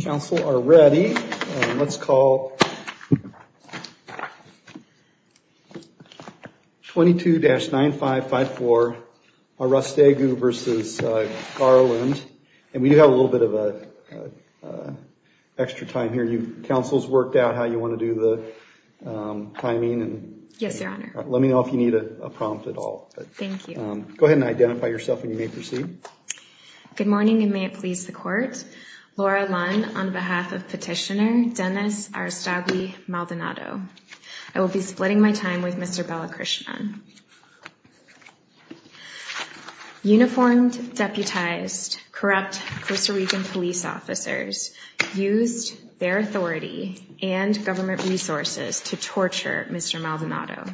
Council are ready. Let's call 22-9554 Arostegui v. Garland. And we do have a little bit of an extra time here. Council's worked out how you want to do the timing. Yes, Your Honor. Let me know if you need a prompt at all. Thank you. Go ahead and identify yourself and you may proceed. Good morning and may it please the Court. Laura Lunn on behalf of Petitioner Dennis Arostegui-Maldonado. I will be splitting my time with Mr. Balakrishnan. Uniformed, deputized, corrupt Costa Rican police officers used their authority and government resources to torture Mr. Maldonado.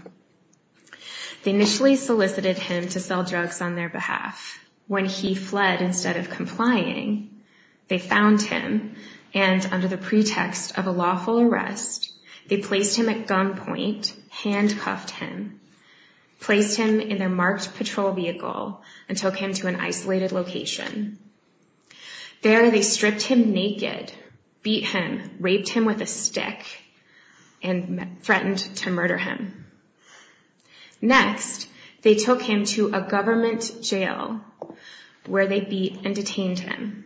They initially solicited him to sell drugs on their behalf. When he fled instead of complying, they found him and under the pretext of a lawful arrest, they placed him at gunpoint, handcuffed him, placed him in their marked patrol vehicle, and took him to an isolated location. There they stripped him naked, beat him, raped him with a stick, and threatened to murder him. Next, they took him to a government jail where they beat and detained him.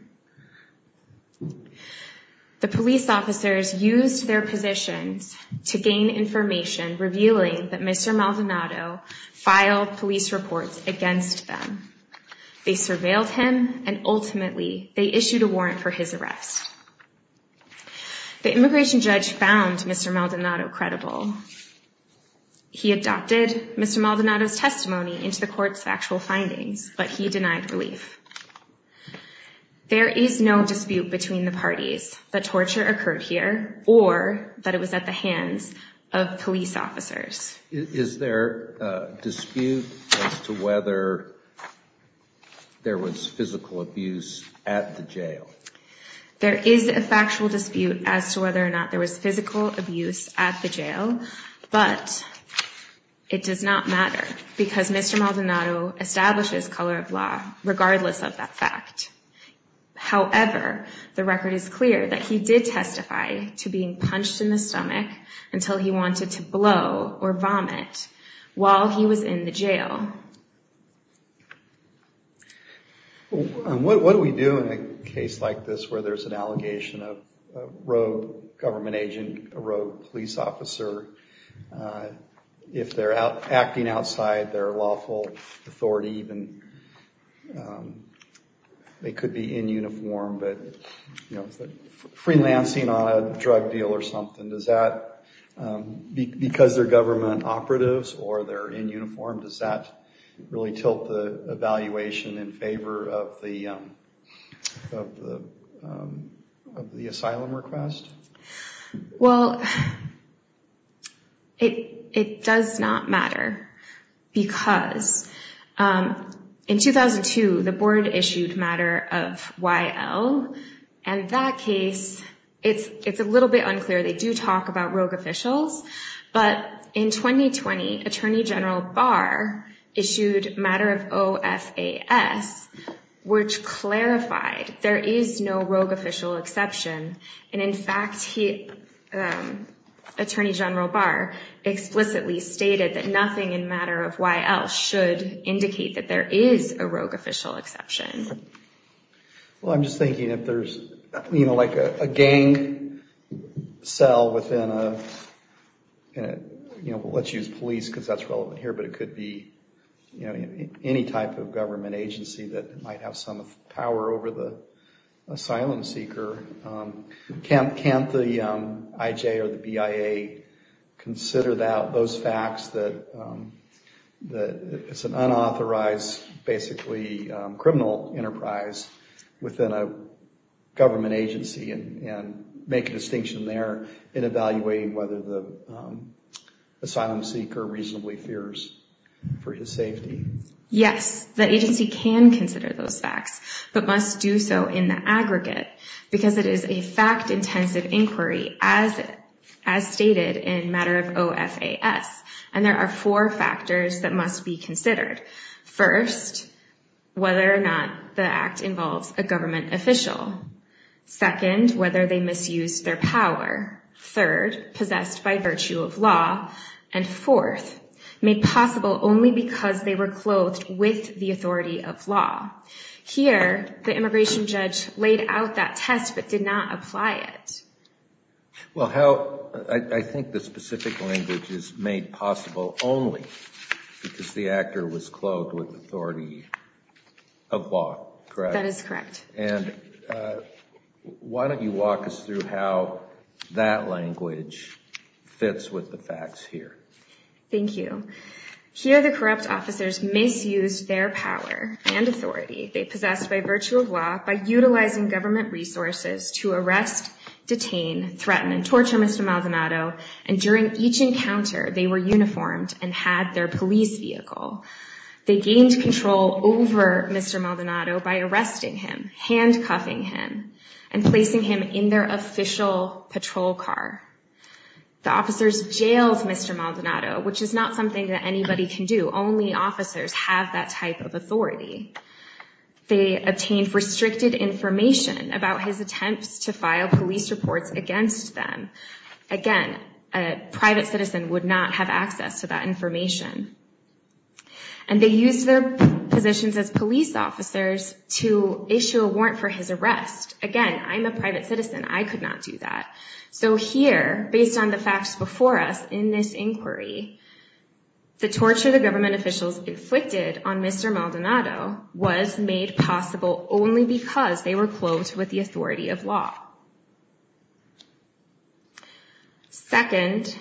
The police officers used their positions to gain information revealing that Mr. Maldonado filed police reports against them. They surveilled him and ultimately they issued a warrant for his arrest. The immigration judge found Mr. Maldonado credible. He adopted Mr. Maldonado's testimony into the court's factual findings, but he denied relief. There is no dispute between the parties that torture occurred here or that it was at the hands of police officers. Is there a dispute as to whether there was physical abuse at the jail? There is a factual dispute as to whether or not there was physical abuse at the jail, but it does not matter because Mr. Maldonado establishes color of law regardless of that fact. However, the record is clear that he did testify to being punched in the stomach until he wanted to blow or vomit while he was in the jail. What do we do in a case like this where there's an allegation of a rogue government agent, a rogue police officer? If they're acting outside their lawful authority, they could be in uniform, but freelancing on a drug deal or something, does that, because they're government operatives or they're in uniform, does that really tilt the evaluation in favor of the asylum request? Well, it does not matter because in 2002, the board issued matter of YL, and that case, it's a little bit unclear. They do talk about rogue officials, but in 2020, Attorney General Barr issued matter of OFAS, which clarified there is no rogue official exception. And in fact, Attorney General Barr explicitly stated that nothing in matter of YL should indicate that there is a rogue official exception. Well, I'm just thinking if there's a gang cell within a, let's use police because that's relevant here, but it could be any type of government agency that might have some power over the asylum seeker. Can't the IJ or the BIA consider those facts that it's an unauthorized, basically criminal enterprise within a government agency and make a distinction there in evaluating whether the asylum seeker reasonably fears for his safety? Yes, the agency can consider those facts, but must do so in the aggregate because it is a fact-intensive inquiry as stated in matter of OFAS. And there are four factors that must be whether or not the act involves a government official. Second, whether they misused their power. Third, possessed by virtue of law. And fourth, made possible only because they were clothed with the authority of law. Here, the immigration judge laid out that test, but did not apply it. Well, how, I think the specific language is made possible only because the actor was clothed with the authority of law, correct? That is correct. And why don't you walk us through how that language fits with the facts here? Thank you. Here, the corrupt officers misused their power and authority. They possessed by virtue of law, by utilizing government resources to arrest, detain, threaten, and torture Mr. Maldonado. And during each encounter, they were They gained control over Mr. Maldonado by arresting him, handcuffing him, and placing him in their official patrol car. The officers jailed Mr. Maldonado, which is not something that anybody can do. Only officers have that type of authority. They obtained restricted information about his attempts to file police reports against them. Again, a private citizen would not have access to that information. And they used their positions as police officers to issue a warrant for his arrest. Again, I'm a private citizen. I could not do that. So here, based on the facts before us in this inquiry, the torture the government officials inflicted on Mr. Maldonado was made possible only because they were clothed with the authority of law. Second,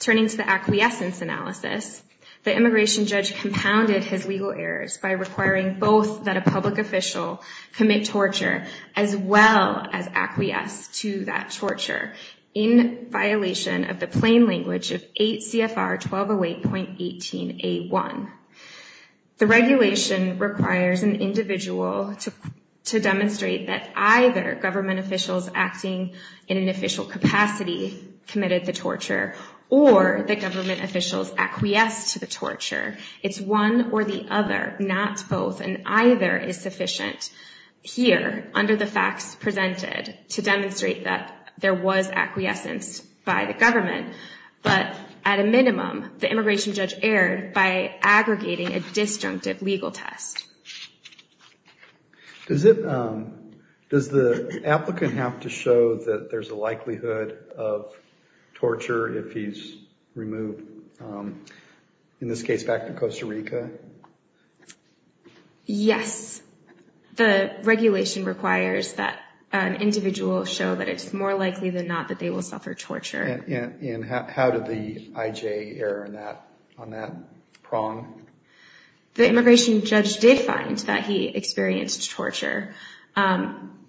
turning to the acquiescence analysis, the immigration judge compounded his legal errors by requiring both that a public official commit torture as well as acquiesce to that torture in violation of the plain language of 8 CFR 1208.18 1. The regulation requires an individual to demonstrate that either government officials acting in an official capacity committed the torture or the government officials acquiesced to the torture. It's one or the other, not both, and either is sufficient here under the facts presented to demonstrate that there was acquiescence by the government. But at a minimum, the immigration judge erred by aggregating a disjunctive legal test. Does the applicant have to show that there's a likelihood of torture if he's removed, in this case, back to Costa Rica? Yes. The regulation requires that an individual show that it's more likely than not that they suffered torture. And how did the IJ err on that prong? The immigration judge did find that he experienced torture.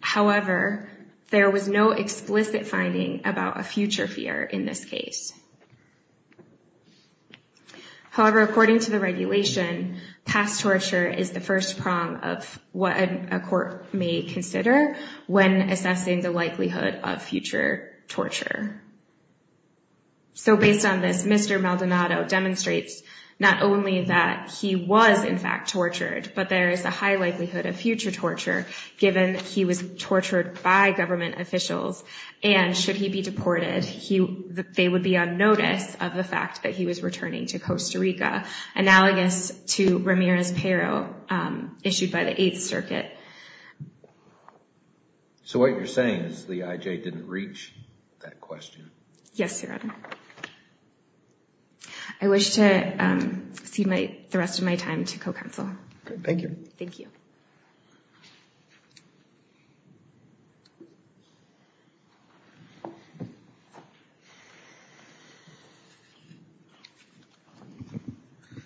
However, there was no explicit finding about a future fear in this case. However, according to the regulation, past torture is the first prong of what a court may consider when assessing the likelihood of future torture. So based on this, Mr. Maldonado demonstrates not only that he was, in fact, tortured, but there is a high likelihood of future torture given he was tortured by government officials. And should he be deported, they would be on notice of the fact that he was returning to Costa Rica, analogous to Ramirez-Pero, issued by the 8th So what you're saying is the IJ didn't reach that question? Yes, Your Honor. I wish to cede the rest of my time to co-counsel. Thank you. Thank you.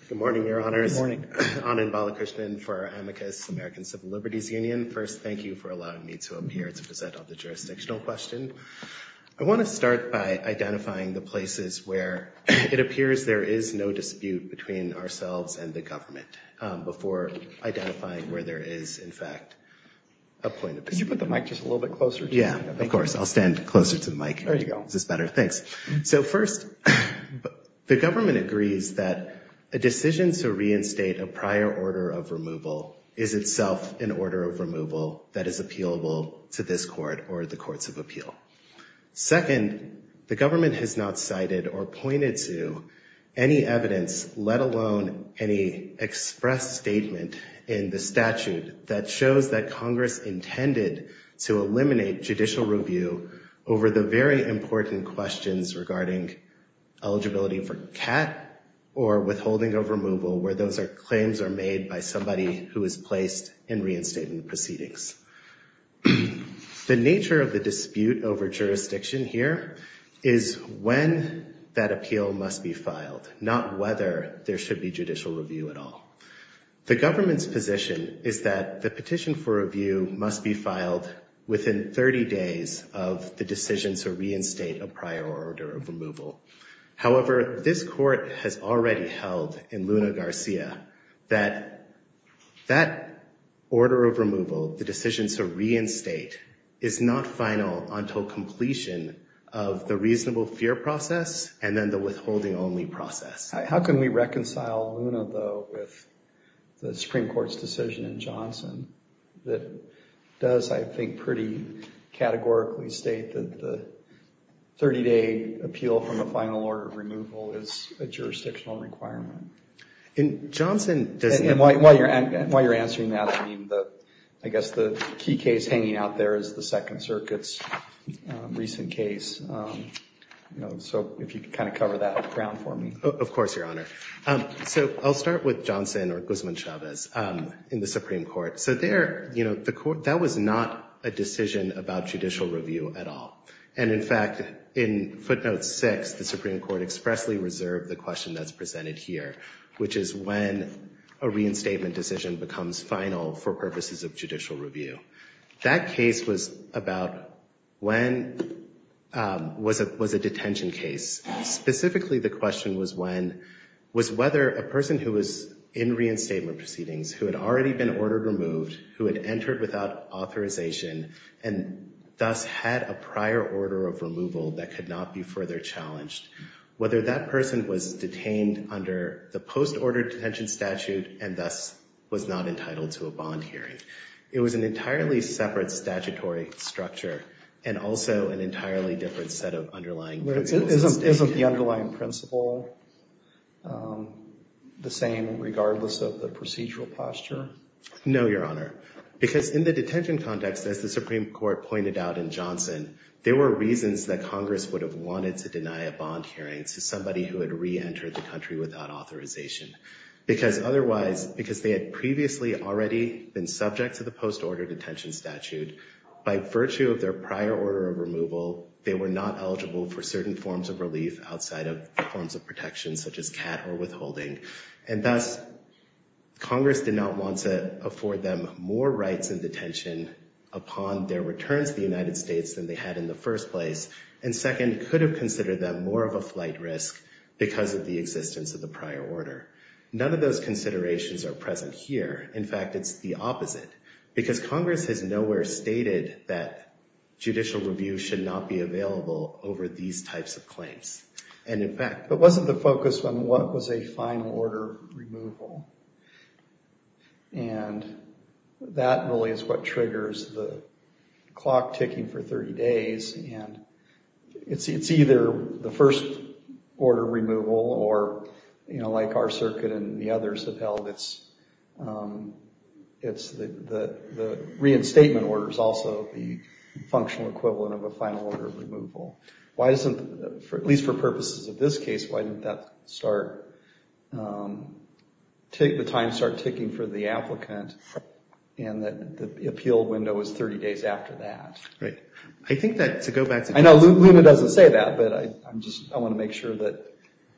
Good morning, Your Honors. Good morning. Anand Balakrishnan for Amicus American Civil Liberties Union. First, thank you for allowing me to appear to present on the jurisdictional question. I want to start by identifying the places where it appears there is no dispute between ourselves and the government before identifying where there is, in fact, a point of dispute. Could you put the mic just a little bit closer? Yeah, of course. I'll stand closer to the mic. There you go. Is this better? Thanks. So first, the government agrees that a decision to reinstate a prior order of removal is itself an order of removal that is appealable to this court or the courts of appeal. Second, the government has not cited or pointed to any evidence, let alone any express statement in the statute that shows that Congress intended to eliminate judicial review over the very important questions regarding eligibility for CAT or withholding of removal, where those claims are made by somebody who is placed in reinstatement proceedings. The nature of the dispute over jurisdiction here is when that appeal must be filed, not whether there should be judicial review at all. The government's position is that the petition for review must be filed within 30 days of the decision to reinstate a prior order of removal. However, this court has already held in Luna Garcia that that order of removal, the decision to reinstate, is not final until completion of the reasonable fear process and then the withholding only process. How can we reconcile Luna, though, with the Supreme Court's decision in Johnson that does, I think, pretty categorically state that the 30-day appeal from the final order of removal is a jurisdictional requirement? In Johnson, doesn't it? And while you're answering that, I mean, I guess the key case hanging out there is the Second Circuit's recent case. So if you could kind of cover that ground for me. Of course, Your Honor. So I'll start with there, you know, that was not a decision about judicial review at all. And in fact, in footnote six, the Supreme Court expressly reserved the question that's presented here, which is when a reinstatement decision becomes final for purposes of judicial review. That case was about when, was a detention case. Specifically, the question was when, was whether a person who was in reinstatement proceedings, who had already been ordered removed, who had entered without authorization and thus had a prior order of removal that could not be further challenged, whether that person was detained under the post-order detention statute and thus was not entitled to a bond hearing. It was an entirely separate statutory structure and also an entirely different set of underlying principles. Isn't the underlying principle the same regardless of the procedural posture? No, Your Honor. Because in the detention context, as the Supreme Court pointed out in Johnson, there were reasons that Congress would have wanted to deny a bond hearing to somebody who had re-entered the country without authorization. Because otherwise, because they had previously already been subject to the post-order detention statute, by virtue of their prior order of removal, they were not eligible for certain forms of relief outside of forms of protection such as CAT or withholding. And thus, Congress did not want to afford them more rights in detention upon their return to the United States than they had in the first place. And second, could have considered that more of a flight risk because of the existence of the prior order. None of those considerations are present here. In fact, it's the opposite. Because Congress has nowhere stated that judicial review should not be available over these types of claims. And in fact, it wasn't the focus on what was a final order removal. And that really is what triggers the clock ticking for 30 days. And it's either the first order removal or, you know, like our circuit and the others have held, it's the reinstatement order is also the functional equivalent of a final order of removal. Why doesn't, at least for purposes of this case, why didn't that start, take the time to start ticking for the applicant and that the appeal window is 30 days after that? Right. I think that to go back to... Luna doesn't say that, but I just want to make sure that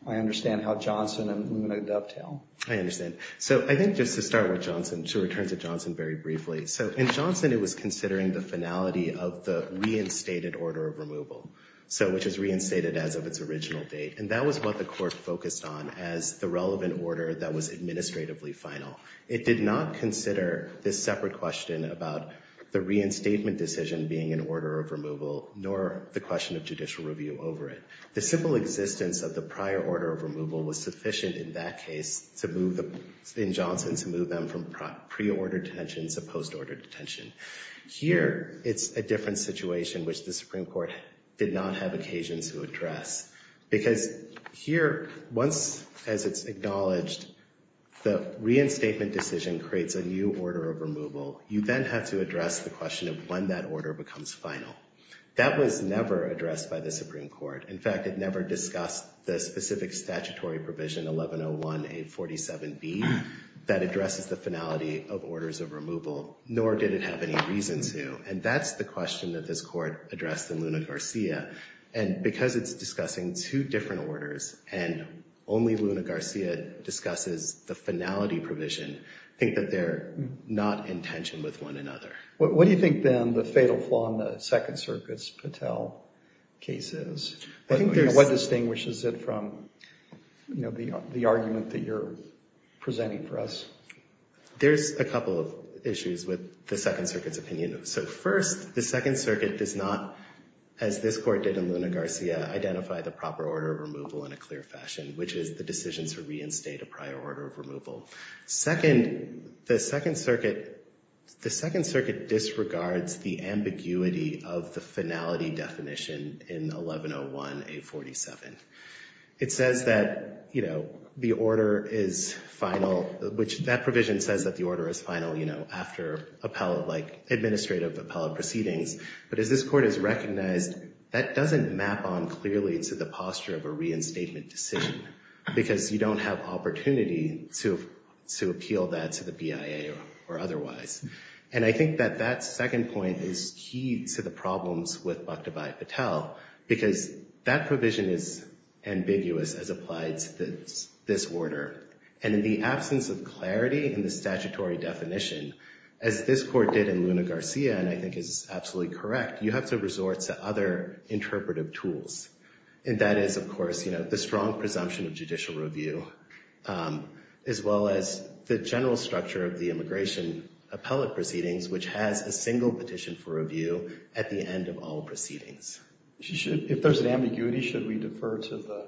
I understand how Johnson and Luna dovetail. I understand. So I think just to start with Johnson, to return to Johnson very briefly. So in Johnson, it was considering the finality of the reinstated order of removal. So which is reinstated as of its original date. And that was what the court focused on as the relevant order that was administratively final. It did not consider this separate question about the question of judicial review over it. The simple existence of the prior order of removal was sufficient in that case to move, in Johnson, to move them from pre-order detention to post-order detention. Here, it's a different situation, which the Supreme Court did not have occasions to address. Because here, once, as it's acknowledged, the reinstatement decision creates a new order of the Supreme Court. In fact, it never discussed the specific statutory provision 1101-847B that addresses the finality of orders of removal, nor did it have any reason to. And that's the question that this court addressed in Luna Garcia. And because it's discussing two different orders and only Luna Garcia discusses the finality provision, I think that they're not in tension with one another. What do you think, then, the fatal flaw in the Second Circuit's cases? What distinguishes it from the argument that you're presenting for us? There's a couple of issues with the Second Circuit's opinion. So first, the Second Circuit does not, as this court did in Luna Garcia, identify the proper order of removal in a clear fashion, which is the decision to reinstate a prior order of removal. Second, the Second Circuit disregards the ambiguity of the finality definition in 1101-847. It says that the order is final, which that provision says that the order is final after administrative appellate proceedings. But as this court has recognized, that doesn't map on clearly to the posture of a reinstatement decision because you don't have opportunity to appeal that to the BIA or otherwise. And I think that that second point is key to the problems with Bhakta Bhai Patel, because that provision is ambiguous as applied to this order. And in the absence of clarity in the statutory definition, as this court did in Luna Garcia, and I think is absolutely correct, you have to resort to other interpretive tools. And that is, of course, the strong presumption of judicial review, as well as the general structure of the immigration appellate proceedings, which has a single petition for review at the end of all proceedings. If there's an ambiguity, should we defer to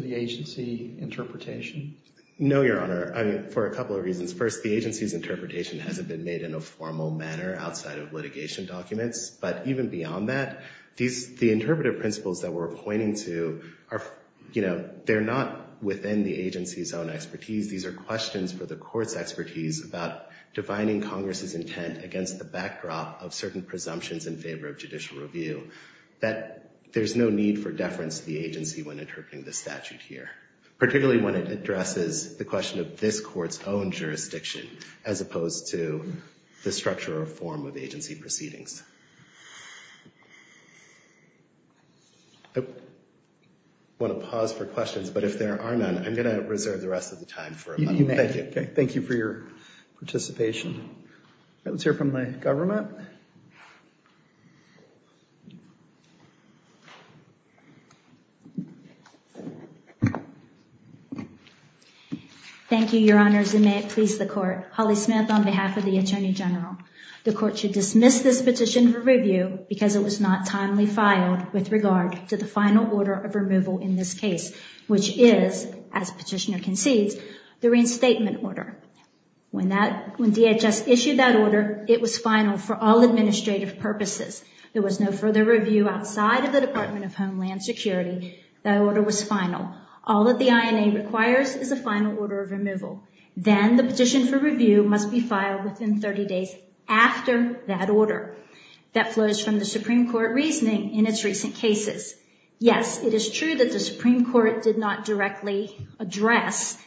the agency interpretation? No, Your Honor, for a couple of reasons. First, the agency's interpretation hasn't been made in a formal manner outside of litigation documents. But even beyond that, the interpretive principles that we're pointing to are, you know, they're not within the agency's own expertise. These are questions for the court's expertise about defining Congress's intent against the backdrop of certain presumptions in favor of judicial review, that there's no need for deference to the agency when interpreting the statute here, particularly when it addresses the question of this court's own jurisdiction as opposed to the structure or form of agency proceedings. I want to pause for questions, but if there are none, I'm going to reserve the rest of the time for a moment. Thank you. Thank you for your participation. Let's hear from the government. Thank you, Your Honors, and may it please the court. Holly Smith on behalf of the Attorney General. The court should dismiss this petition for review because it was not timely filed with regard to the final order of removal in this case, which is, as petitioner concedes, the reinstatement order. When DHS issued that order, it was final for all administrative purposes. There was no further review outside of the Department of Homeland Security. That order was final. All that the INA requires is a final order of removal. Then the petition for review must be filed within 30 days after that order. That flows from the Supreme Court reasoning in its recent cases. Yes, it is true that the Supreme Court did not directly address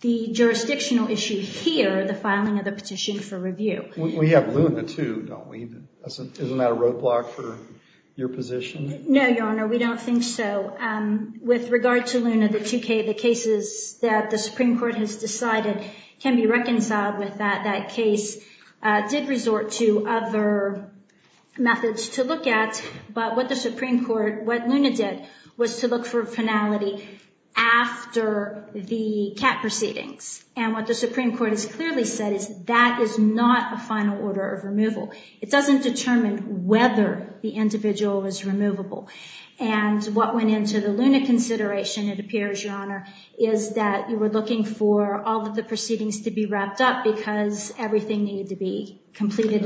the jurisdictional issue here, the filing of the petition for review. We have Luna too, don't we? Isn't that a roadblock for your position? No, Your Honor, we don't think so. With regard to Luna, the two cases that the did resort to other methods to look at, but what the Supreme Court, what Luna did, was to look for finality after the CAT proceedings. And what the Supreme Court has clearly said is that is not a final order of removal. It doesn't determine whether the individual was removable. And what went into the Luna consideration, it appears, Your Honor, is that you were looking for all of the proceedings to be wrapped up because everything needed to be completed.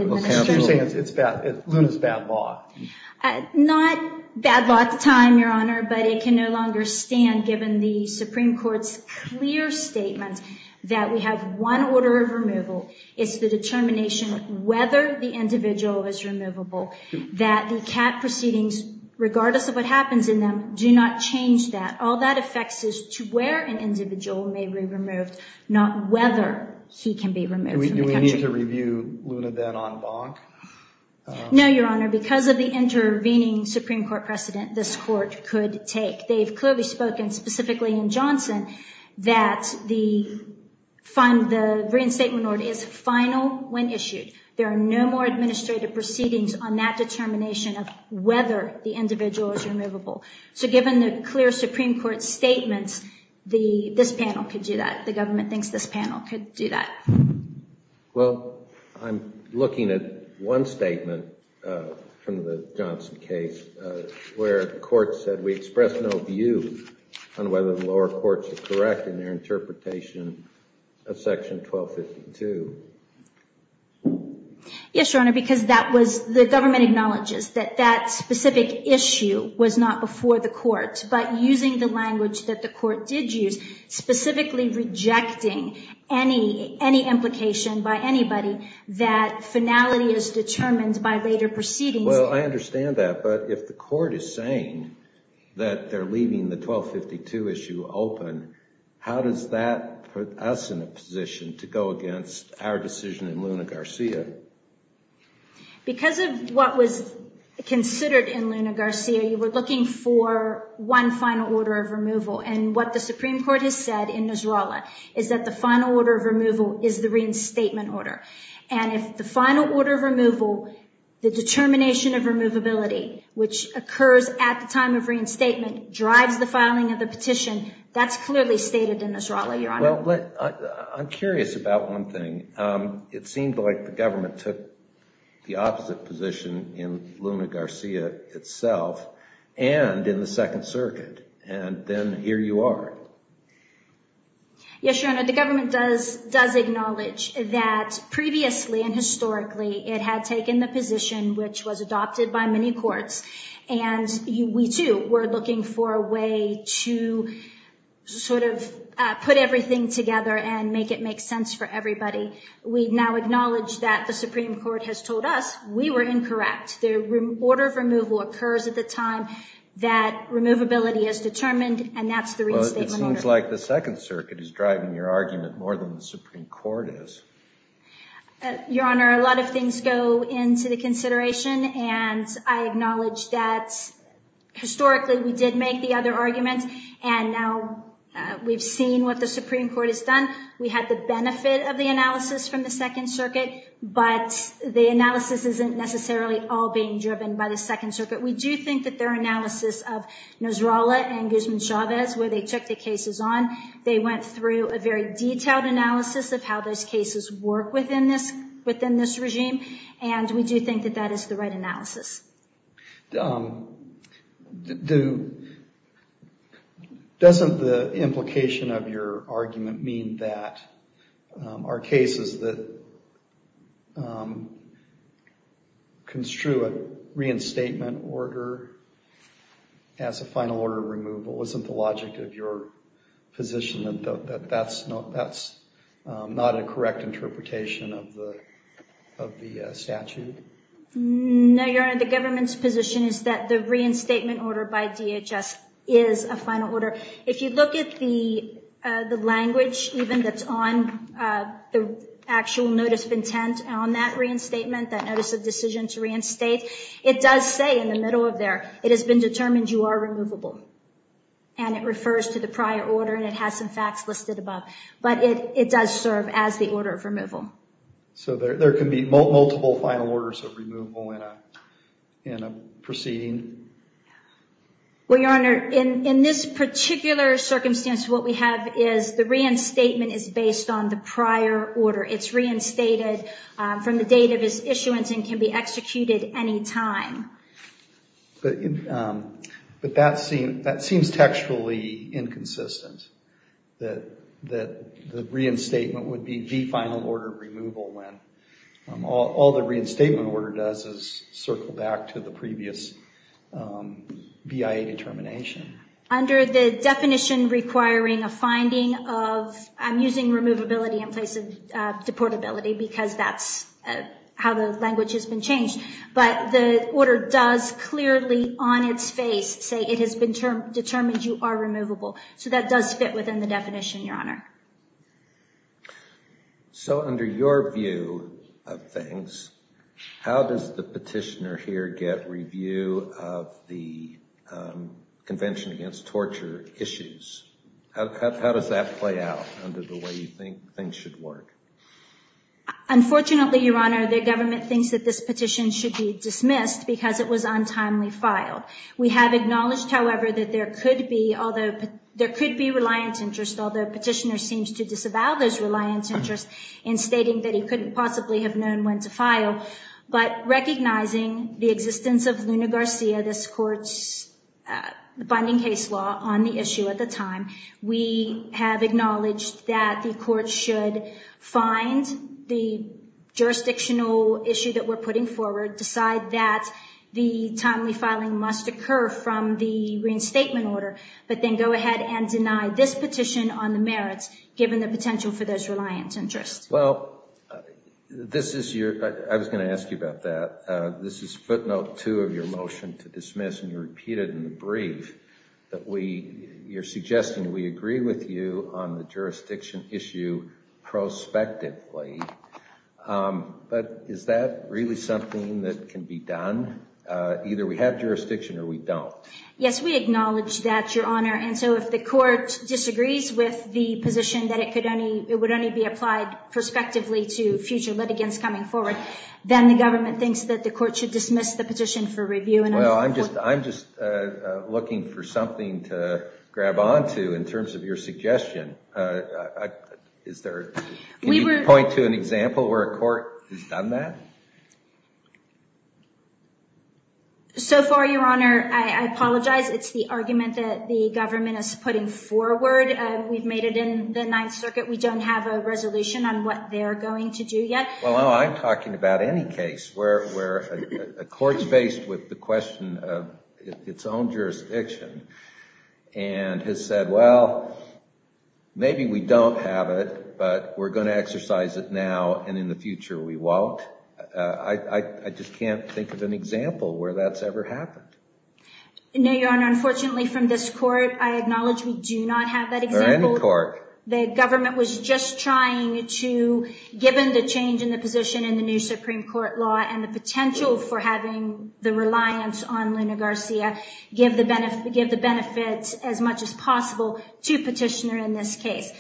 Not bad luck time, Your Honor, but it can no longer stand given the Supreme Court's clear statement that we have one order of removal. It's the determination whether the individual is removable that the CAT proceedings, regardless of what happens in them, do not change that. All that affects is to where an individual may be removed, not whether he can be removed. Do we need to review Luna then en banc? No, Your Honor, because of the intervening Supreme Court precedent, this Court could take. They've clearly spoken, specifically in Johnson, that the reinstatement order is final when issued. There are no more administrative proceedings on that determination of whether the individual is removable. So given the clear Supreme Court statements, this panel could do that. The government thinks this panel could do that. Well, I'm looking at one statement from the Johnson case where the court said, we express no view on whether the lower courts are correct in their interpretation of Section 1252. Yes, Your Honor, because the government acknowledges that that specific issue was not before the court, but using the language that the court did use, specifically rejecting any implication by anybody that finality is determined by later proceedings. Well, I understand that, but if the court is saying that they're leaving the 1252 issue open, how does that put us in a position to go against our decision in Luna Garcia? Because of what was considered in Luna Garcia, you were looking for one final order of removal. And what the Supreme Court has said in Nasrallah is that the final order of removal is the reinstatement order. And if the final order of removal, the determination of removability, which occurs at the time of reinstatement, drives the filing of the petition, that's clearly stated in Nasrallah, Your Honor. Well, I'm curious about one thing. It seemed like the government took the opposite position in Luna Garcia itself and in the Second Circuit, and then here you are. Yes, Your Honor, the government does acknowledge that previously and historically it had taken the position, which was adopted by many courts, and we too were looking for a way to sort of put everything together and make it make sense for everybody. We now acknowledge that the Supreme Court has told us we were incorrect. The order of removal occurs at the time that removability is determined, and that's the reinstatement order. Well, it seems like the Second Circuit is driving your argument more than the Supreme Court is. Your Honor, a lot of things go into the consideration, and I acknowledge that historically we did make the other arguments, and now we've seen what the Supreme Court has done. We had the benefit of the analysis from the Second Circuit, but the analysis isn't necessarily all being driven by the Second Circuit. We do think that their analysis of Nasrallah and Guzman-Chavez, where they took the cases on, they went through a very detailed analysis of how those cases work within this regime, and we do think that that is the right analysis. Doesn't the implication of your argument mean that our cases that construe a reinstatement order as a final order removal? Isn't the logic of your position that that's not a correct interpretation of the statute? No, Your Honor. The government's position is that the reinstatement order by DHS is a final order. If you look at the language even that's on the actual notice of intent on that reinstatement, that notice of decision to reinstate, it does say in the middle of there, it has been determined you are removable, and it refers to the prior order, and it has some facts listed above, but it does serve as the order of removal. So there can be multiple final orders of removal in a proceeding? Well, Your Honor, in this particular circumstance what we have is the reinstatement is based on the prior order. It's reinstated from the date of its issuance and can be executed any time. But that seems textually inconsistent, that the reinstatement would be the final order removal when all the reinstatement order does is circle back to the previous BIA determination. Under the definition requiring a finding of, I'm using removability in place of deportability because that's how the language has been changed, but the order does clearly on its face say it has been determined you are removable. So that does fit within the definition, Your Honor. So under your view of things, how does the petitioner here get review of the Convention Against Torture issues? How does that play out under the way you think things should work? Unfortunately, Your Honor, the government thinks that this petition should be dismissed because it was untimely filed. We have acknowledged, however, that there could be, although, petitioner seems to disavow this reliance interest in stating that he couldn't possibly have known when to file. But recognizing the existence of Luna Garcia, this court's binding case law on the issue at the time, we have acknowledged that the court should find the jurisdictional issue that we're putting forward, decide that the timely filing must occur from the merits given the potential for this reliance interest. Well, this is your, I was going to ask you about that. This is footnote two of your motion to dismiss and you repeated in the brief that we, you're suggesting we agree with you on the jurisdiction issue prospectively. But is that really something that can be done? Either we have jurisdiction or we don't. Yes, we acknowledge that, Your Honor. And so if the court disagrees with the position that it could only, it would only be applied prospectively to future litigants coming forward, then the government thinks that the court should dismiss the petition for review. Well, I'm just, I'm just looking for something to grab onto in terms of your suggestion. Is there, can you point to an example where a court has done that? So far, Your Honor, I apologize. It's the argument that the government is putting forward. We've made it in the Ninth Circuit. We don't have a resolution on what they're going to do yet. Well, I'm talking about any case where a court's faced with the question of its own jurisdiction and has said, well, maybe we don't have it, but we're going to exercise it now and in the future we won't. I just can't think of an example where that's ever happened. No, Your Honor. Unfortunately, from this court, I acknowledge we do not have that example. Or any court. The government was just trying to, given the change in the position in the new Supreme Court law and the potential for having the reliance on Luna Garcia, give the benefit, give the benefits as much as possible to petitioner in this case.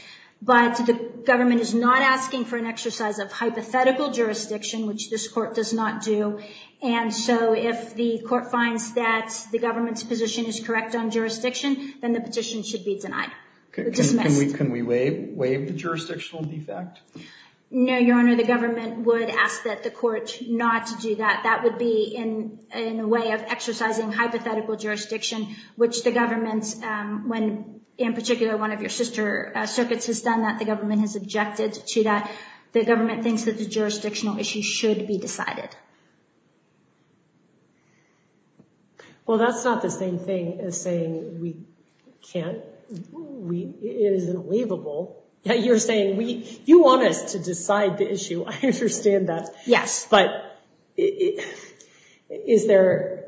But the government is not asking for an exercise of hypothetical jurisdiction, which this court does not do. And so if the court finds that the government's position is correct on jurisdiction, then the petition should be denied. Okay. Can we waive the jurisdictional defect? No, Your Honor. The government would ask that the court not to do that. That would be in a way of exercising hypothetical jurisdiction, which the government, when in particular one of your sister circuits has done that, the government has objected to that. The government thinks that the jurisdictional issue should be decided. Well, that's not the same thing as saying we can't, we, it isn't waivable. Yeah, you're saying we, you want us to decide the issue. I understand that. Yes. But is there,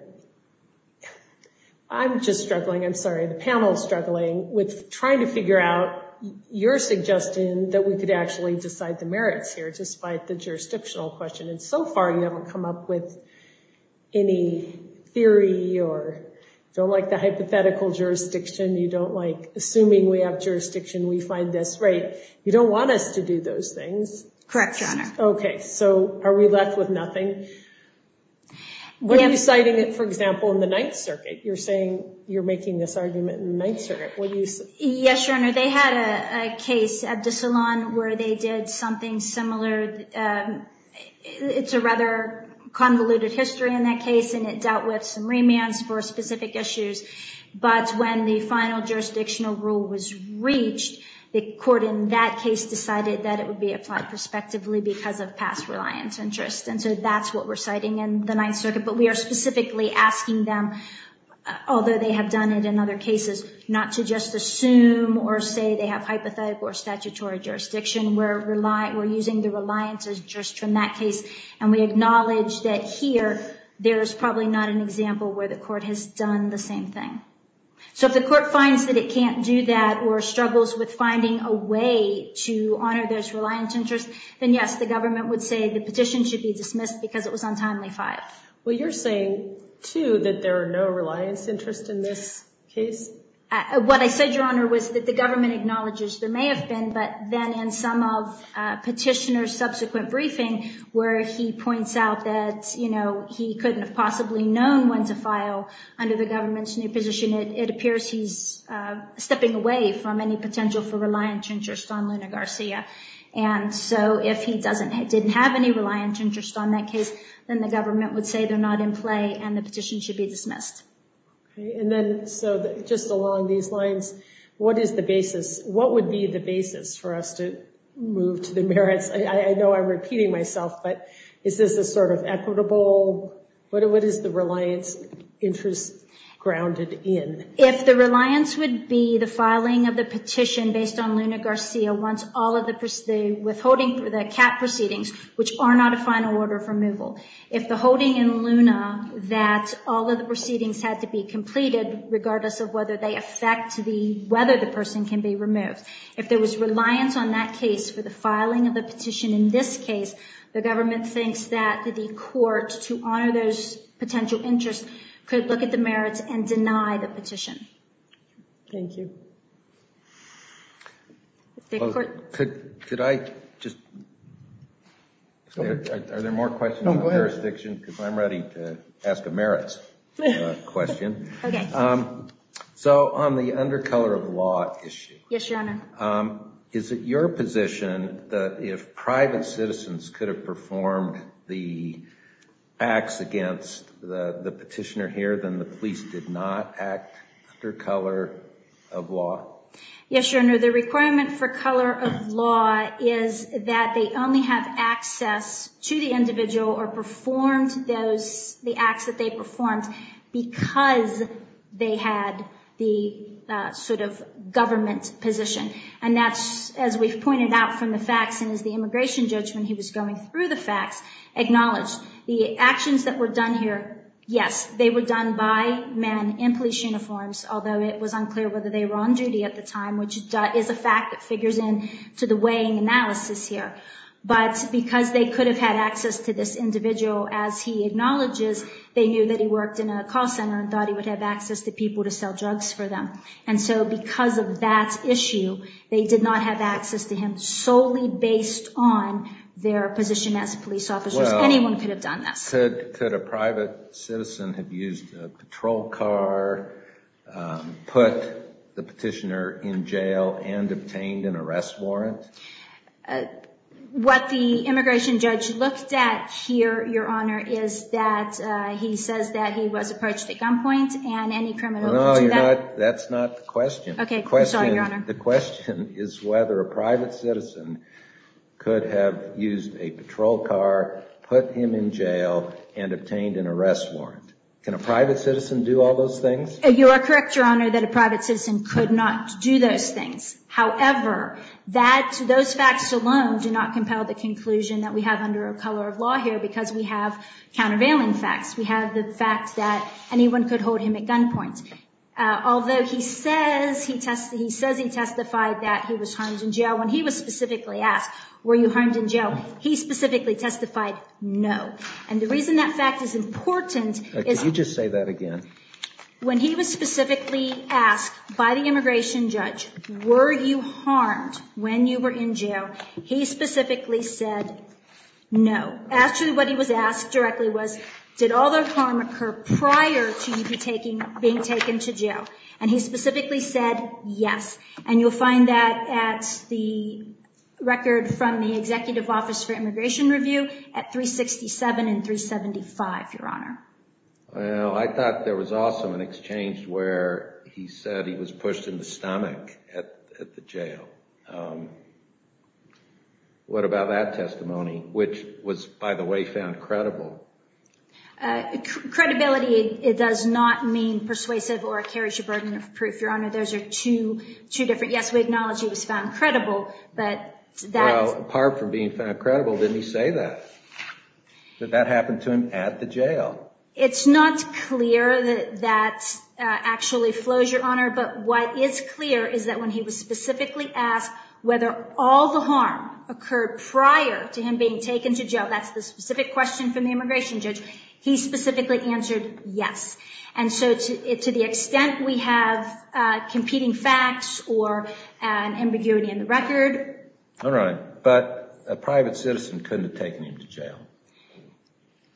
I'm just struggling, I'm sorry, the panel's struggling with trying to figure out your suggestion that we could actually decide the merits here, despite the jurisdictional question. And so far you haven't come up with any theory or don't like the hypothetical jurisdiction. You don't like, assuming we have jurisdiction, we find this right. You don't want us to do those things. Correct, Your Honor. Okay. So are we left with nothing? Were you citing it, for example, in the Ninth Circuit? You're saying you're making this argument in the Ninth Circuit. What do you say? Yes, Your Honor. They had a case at the salon where they did something similar. It's a rather convoluted history in that case, and it dealt with some remands for specific issues. But when the final jurisdictional rule was reached, the court in that case decided that it would be applied prospectively because of past reliance interest. And so that's what we're citing in the Ninth Circuit. But we are specifically asking them, although they have done it in other cases, not to just assume or say they have hypothetical or statutory jurisdiction. We're using the reliance interest from that case. And we acknowledge that here, there's probably not an example where the court has done the same thing. So if the court finds that it can't do that or struggles with finding a way to honor this reliance interest, then yes, the government would say the petition should be dismissed because it was untimely filed. Well, you're saying, too, that there are no reliance interest in this case? What I said, Your Honor, was that the government acknowledges there may have been, but then in some of Petitioner's subsequent briefing where he points out that, you know, he couldn't have possibly known when to file under the government's new position, it appears he's stepping away from any potential for reliance interest on Luna Garcia. And so if he doesn't, didn't have any reliance interest on that case, then the government would say they're not in play and the petition should be dismissed. And then, so just along these lines, what is the basis, what would be the basis for us to move to the merits? I know I'm repeating myself, but is this a sort of equitable, what is the reliance interest grounded in? If the reliance would be the filing of the petition based on Luna Garcia, once all of the withholding for the CAP proceedings, which are not a final order of removal. If the holding in Luna that all of the proceedings had to be completed, regardless of whether they affect the, whether the person can be removed. If there was reliance on that case for the filing of the petition in this case, the government thinks that the court, to honor those potential interests, could look at the merits and deny the petition. Thank you. Well, could, could I just, are there more questions on jurisdiction? Because I'm ready to ask a merits question. So on the undercolor of law issue, is it your position that if private citizens could have performed the acts against the petitioner here, then the police did not act under color of law? Yes, your honor, the requirement for color of law is that they only have access to the individual or performed those, the acts that they performed because they had the sort of government position. And that's, as we've pointed out from the facts and as the immigration judge, when he was going through the facts, acknowledged the actions that were done here. Yes, they were done by men in police uniforms, although it was unclear whether they were on is a fact that figures in to the weighing analysis here. But because they could have had access to this individual, as he acknowledges, they knew that he worked in a call center and thought he would have access to people to sell drugs for them. And so because of that issue, they did not have access to him solely based on their position as police officers. Anyone could have done that. Could a private citizen have used a patrol car, put the petitioner in jail, and obtained an arrest warrant? What the immigration judge looked at here, your honor, is that he says that he was approached at gunpoint and any criminal. That's not the question. The question is whether a private citizen could have used a patrol car, put him in jail, and obtained an arrest warrant. Can a private citizen do all those things? You are correct, your honor, that a private citizen could not do those things. However, that, those facts alone do not compel the conclusion that we have under a color of law here because we have countervailing facts. We have the fact that anyone could hold him at gunpoint. Although he says he testified that he was harmed in jail, when he was specifically asked, were you harmed in jail, he specifically testified no. And the reason that fact is important is... Could you just say that again? When he was specifically asked by the immigration judge, were you harmed when you were in jail, he specifically said no. Actually, what he was asked directly was, did all the harm occur prior to you being taken to jail? And he specifically said yes. And you'll find that at the record from the Executive Office for Immigration Review at 367 and 375, your honor. Well, I thought there was also an exchange where he said he was pushed in the stomach at the jail. What about that testimony, which was, by the way, found credible? Credibility, it does not mean persuasive or a carriage of burden of proof, your honor. Those are two different... Yes, we acknowledge he was found credible, but that... Well, apart from being found credible, didn't he say that? That that happened to him at the jail? It's not clear that that actually flows, your honor. But what is clear is that when he was specifically asked whether all the harm occurred prior to him being taken to jail, that's the specific question from the immigration judge, he specifically answered yes. And so to the extent we have competing facts or an ambiguity in the record... All right, but a private citizen couldn't have taken him to jail.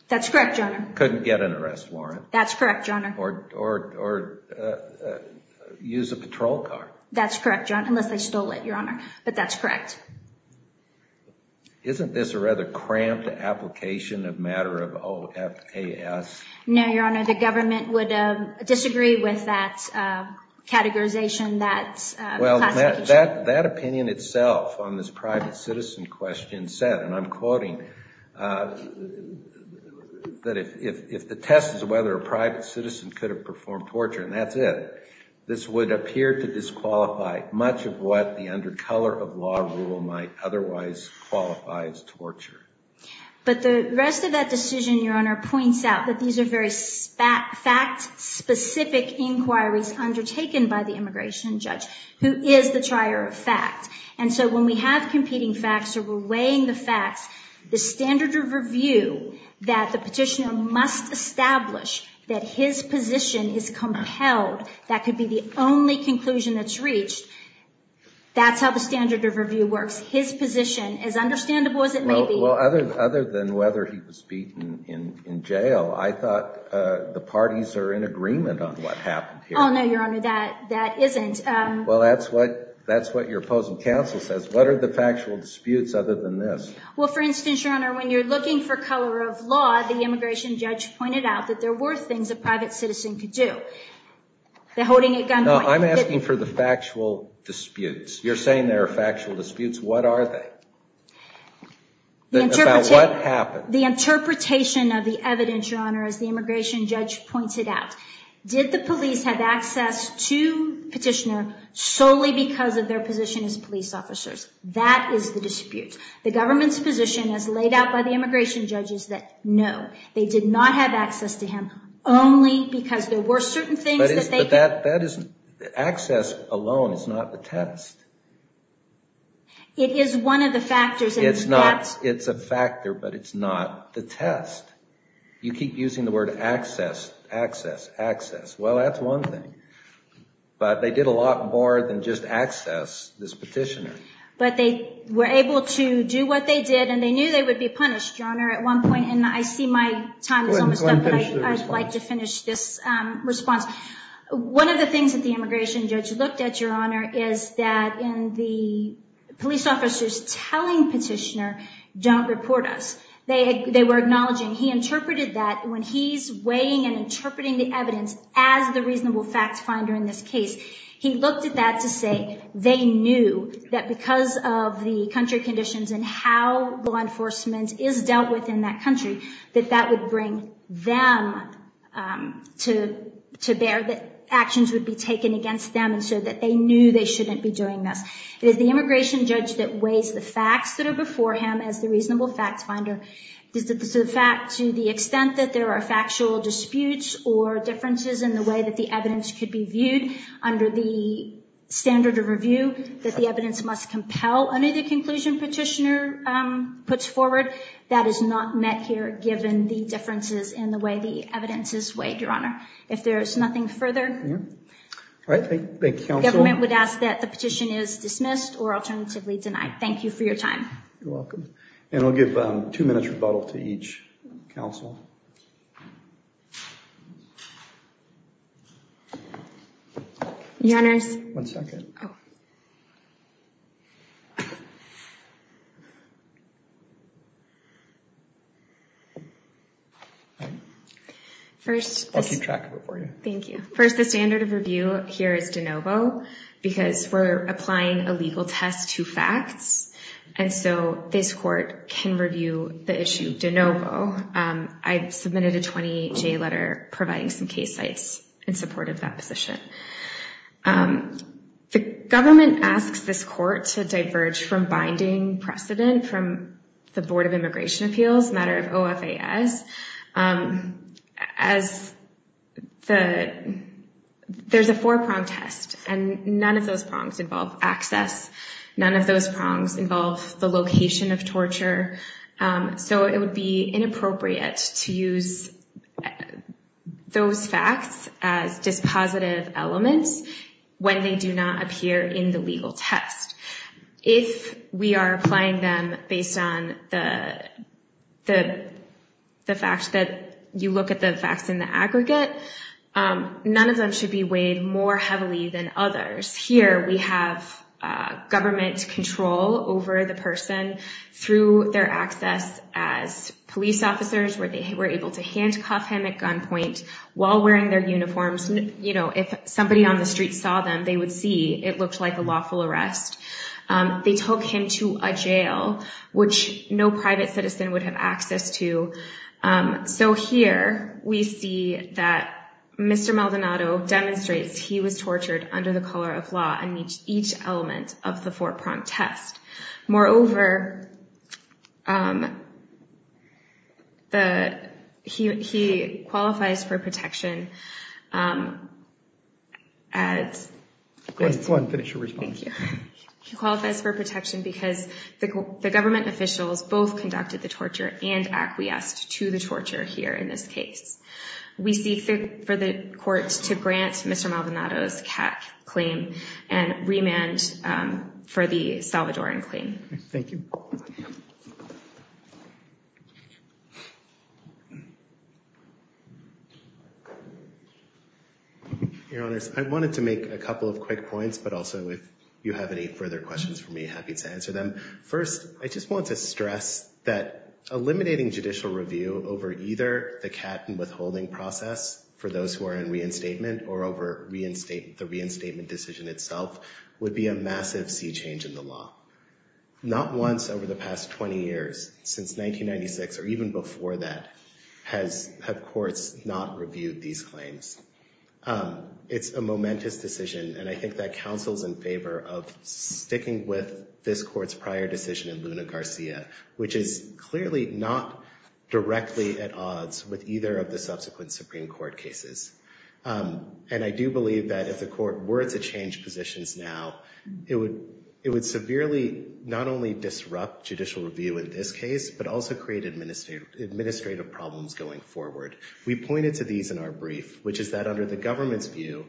That's correct, your honor. Couldn't get an arrest warrant. That's correct, your honor. Or use a patrol car. That's correct, your honor, unless they stole it, your honor. But that's correct. Isn't this a rather cramped application of matter of OFAS? No, your honor. The government would disagree with that categorization, that classification. Well, that opinion itself on this private citizen question said, and I'm quoting, that if the test is whether a private citizen could have performed torture, and that's it, this would appear to disqualify much of what the under color of law rule might otherwise qualify as torture. But the rest of that decision, your honor, points out that these are very fact-specific inquiries undertaken by the immigration judge, who is the trier of fact. And so when we have competing facts or we're weighing the facts, the standard of review that the petitioner must establish that his position is compelled, that could be the only conclusion that's reached, that's how the standard of review works. His position, as understandable as it may be. Well, other than whether he was beaten in jail, I thought the parties are in agreement on what happened here. Oh, no, your honor, that isn't. Well, that's what your opposing counsel says. What are the factual disputes other than this? Well, for instance, your honor, when you're looking for color of law, the immigration judge pointed out that there were things a private citizen could do. The holding at gunpoint. No, I'm asking for the factual disputes. You're saying there are factual disputes. What are they? About what happened? The interpretation of the evidence, your honor, as the immigration judge pointed out. Did the police have access to the petitioner solely because of their position as police officers? That is the dispute. The government's position as laid out by the immigration judge is that no, they did not have access to him only because there were certain things. But that isn't, access alone is not the test. It is one of the factors. It's not, it's a factor, but it's not the test. You keep using the word access, access, access. Well, that's one thing, but they did a lot more than just access this petitioner. But they were able to do what they did and they knew they would be punished, your honor, at one point. I'd like to finish this response. One of the things that the immigration judge looked at, your honor, is that in the police officers telling petitioner, don't report us, they were acknowledging. He interpreted that when he's weighing and interpreting the evidence as the reasonable facts finder in this case, he looked at that to say they knew that because of the country conditions and how law enforcement is dealt with in that country, that that would bring them to bear that actions would be taken against them. And so that they knew they shouldn't be doing this. It is the immigration judge that weighs the facts that are before him as the reasonable facts finder. This is the fact to the extent that there are factual disputes or differences in the way that the evidence could be viewed under the standard of review, that the evidence must compel under the conclusion petitioner puts forward, that is not met here given the differences in the way the evidence is weighed, your honor. If there's nothing further, the government would ask that the petition is dismissed or alternatively denied. Thank you for your time. You're welcome. And I'll give two minutes rebuttal to each counsel. Your honors. One second. First, I'll keep track of it for you. Thank you. First, the standard of review here is de novo because we're applying a legal test to facts. And so this court can review the issue de novo. I submitted a 28-J letter providing some case sites in support of that position. The government asks this court to diverge from binding precedent from the Board of Immigration Appeals, matter of OFAS. There's a four-prong test and none of those prongs involve access. None of those prongs involve the location of torture. So it would be inappropriate to use those facts as dispositive elements when they do not appear in the legal test. If we are applying them based on the fact that you look at the facts in the aggregate, none of them should be weighed more heavily than others. Here, we have government control over the person through their access as police officers, where they were able to handcuff him at gunpoint while wearing their uniforms. If somebody on the street saw them, they would see it looked like a lawful arrest. They took him to a jail, which no private citizen would have access to. So here, we see that Mr. Maldonado demonstrates he was tortured under the color of law in each element of the four-prong test. Moreover, he qualifies for protection at... Go ahead and finish your response. Thank you. He qualifies for protection because the government officials both conducted the torture and acquiesced to the torture here in this case. We seek for the courts to grant Mr. Maldonado's CAC claim and remand for the Salvadoran claim. Thank you. Your Honor, I wanted to make a couple of quick points, but also if you have any further questions for me, happy to answer them. First, I just want to stress that eliminating judicial review over either the cap and withholding process for those who are in reinstatement or over the reinstatement decision itself would be a massive sea change in the law. Not once over the past 20 years, since 1996 or even before that, have courts not reviewed these claims. It's a momentous decision, and I think that counsels in favor of sticking with this court's prior decision in Luna Garcia, which is clearly not directly at odds with either of the subsequent Supreme Court cases. And I do believe that if the court were to change positions now, it would severely not only disrupt judicial review in this case, but also create administrative problems going forward. We pointed to these in our brief, which is that under the government's view,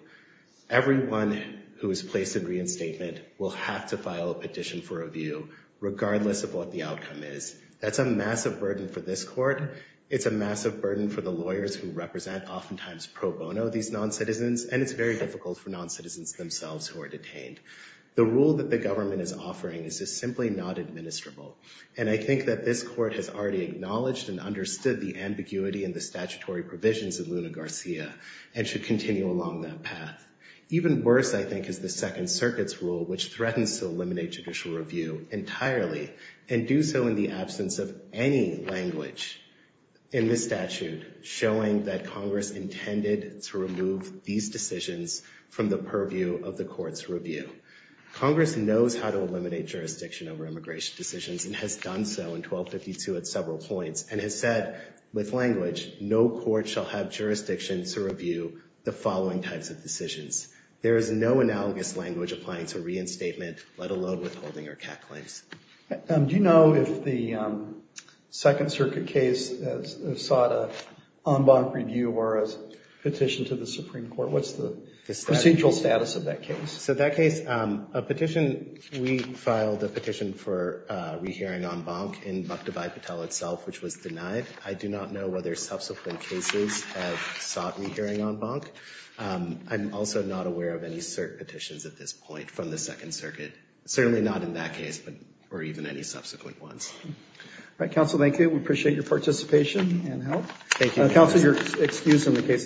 everyone who is placed in reinstatement will have to file a petition for review, regardless of what the outcome is. That's a massive burden for this court. It's a massive burden for the lawyers who represent, oftentimes pro bono, these non-citizens, and it's very difficult for non-citizens themselves who are detained. The rule that the government is offering is just simply not administrable, and I think that this court has already acknowledged and understood the ambiguity in the statutory provisions of Luna Garcia and should continue along that path. Even worse, I think, is the Second Circuit's rule, which threatens to eliminate judicial review entirely, and do so in the absence of any language in this statute showing that Congress intended to remove these decisions from the purview of the court's review. Congress knows how to eliminate jurisdiction over immigration decisions and has done so in 1252 at several points, and has said with language, no court shall have jurisdiction to review the following types of decisions. There is no analogous language applying to reinstatement, let alone withholding or CAC claims. Do you know if the Second Circuit case sought an en banc review or a petition to the Supreme Court? What's the procedural status of that case? So that case, a petition, we filed a which was denied. I do not know whether subsequent cases have sought an en banc. I'm also not aware of any cert petitions at this point from the Second Circuit, certainly not in that case, but or even any subsequent ones. All right, counsel, thank you. We appreciate your participation and help. Thank you. Counsel, you're excused on the case of subpoena.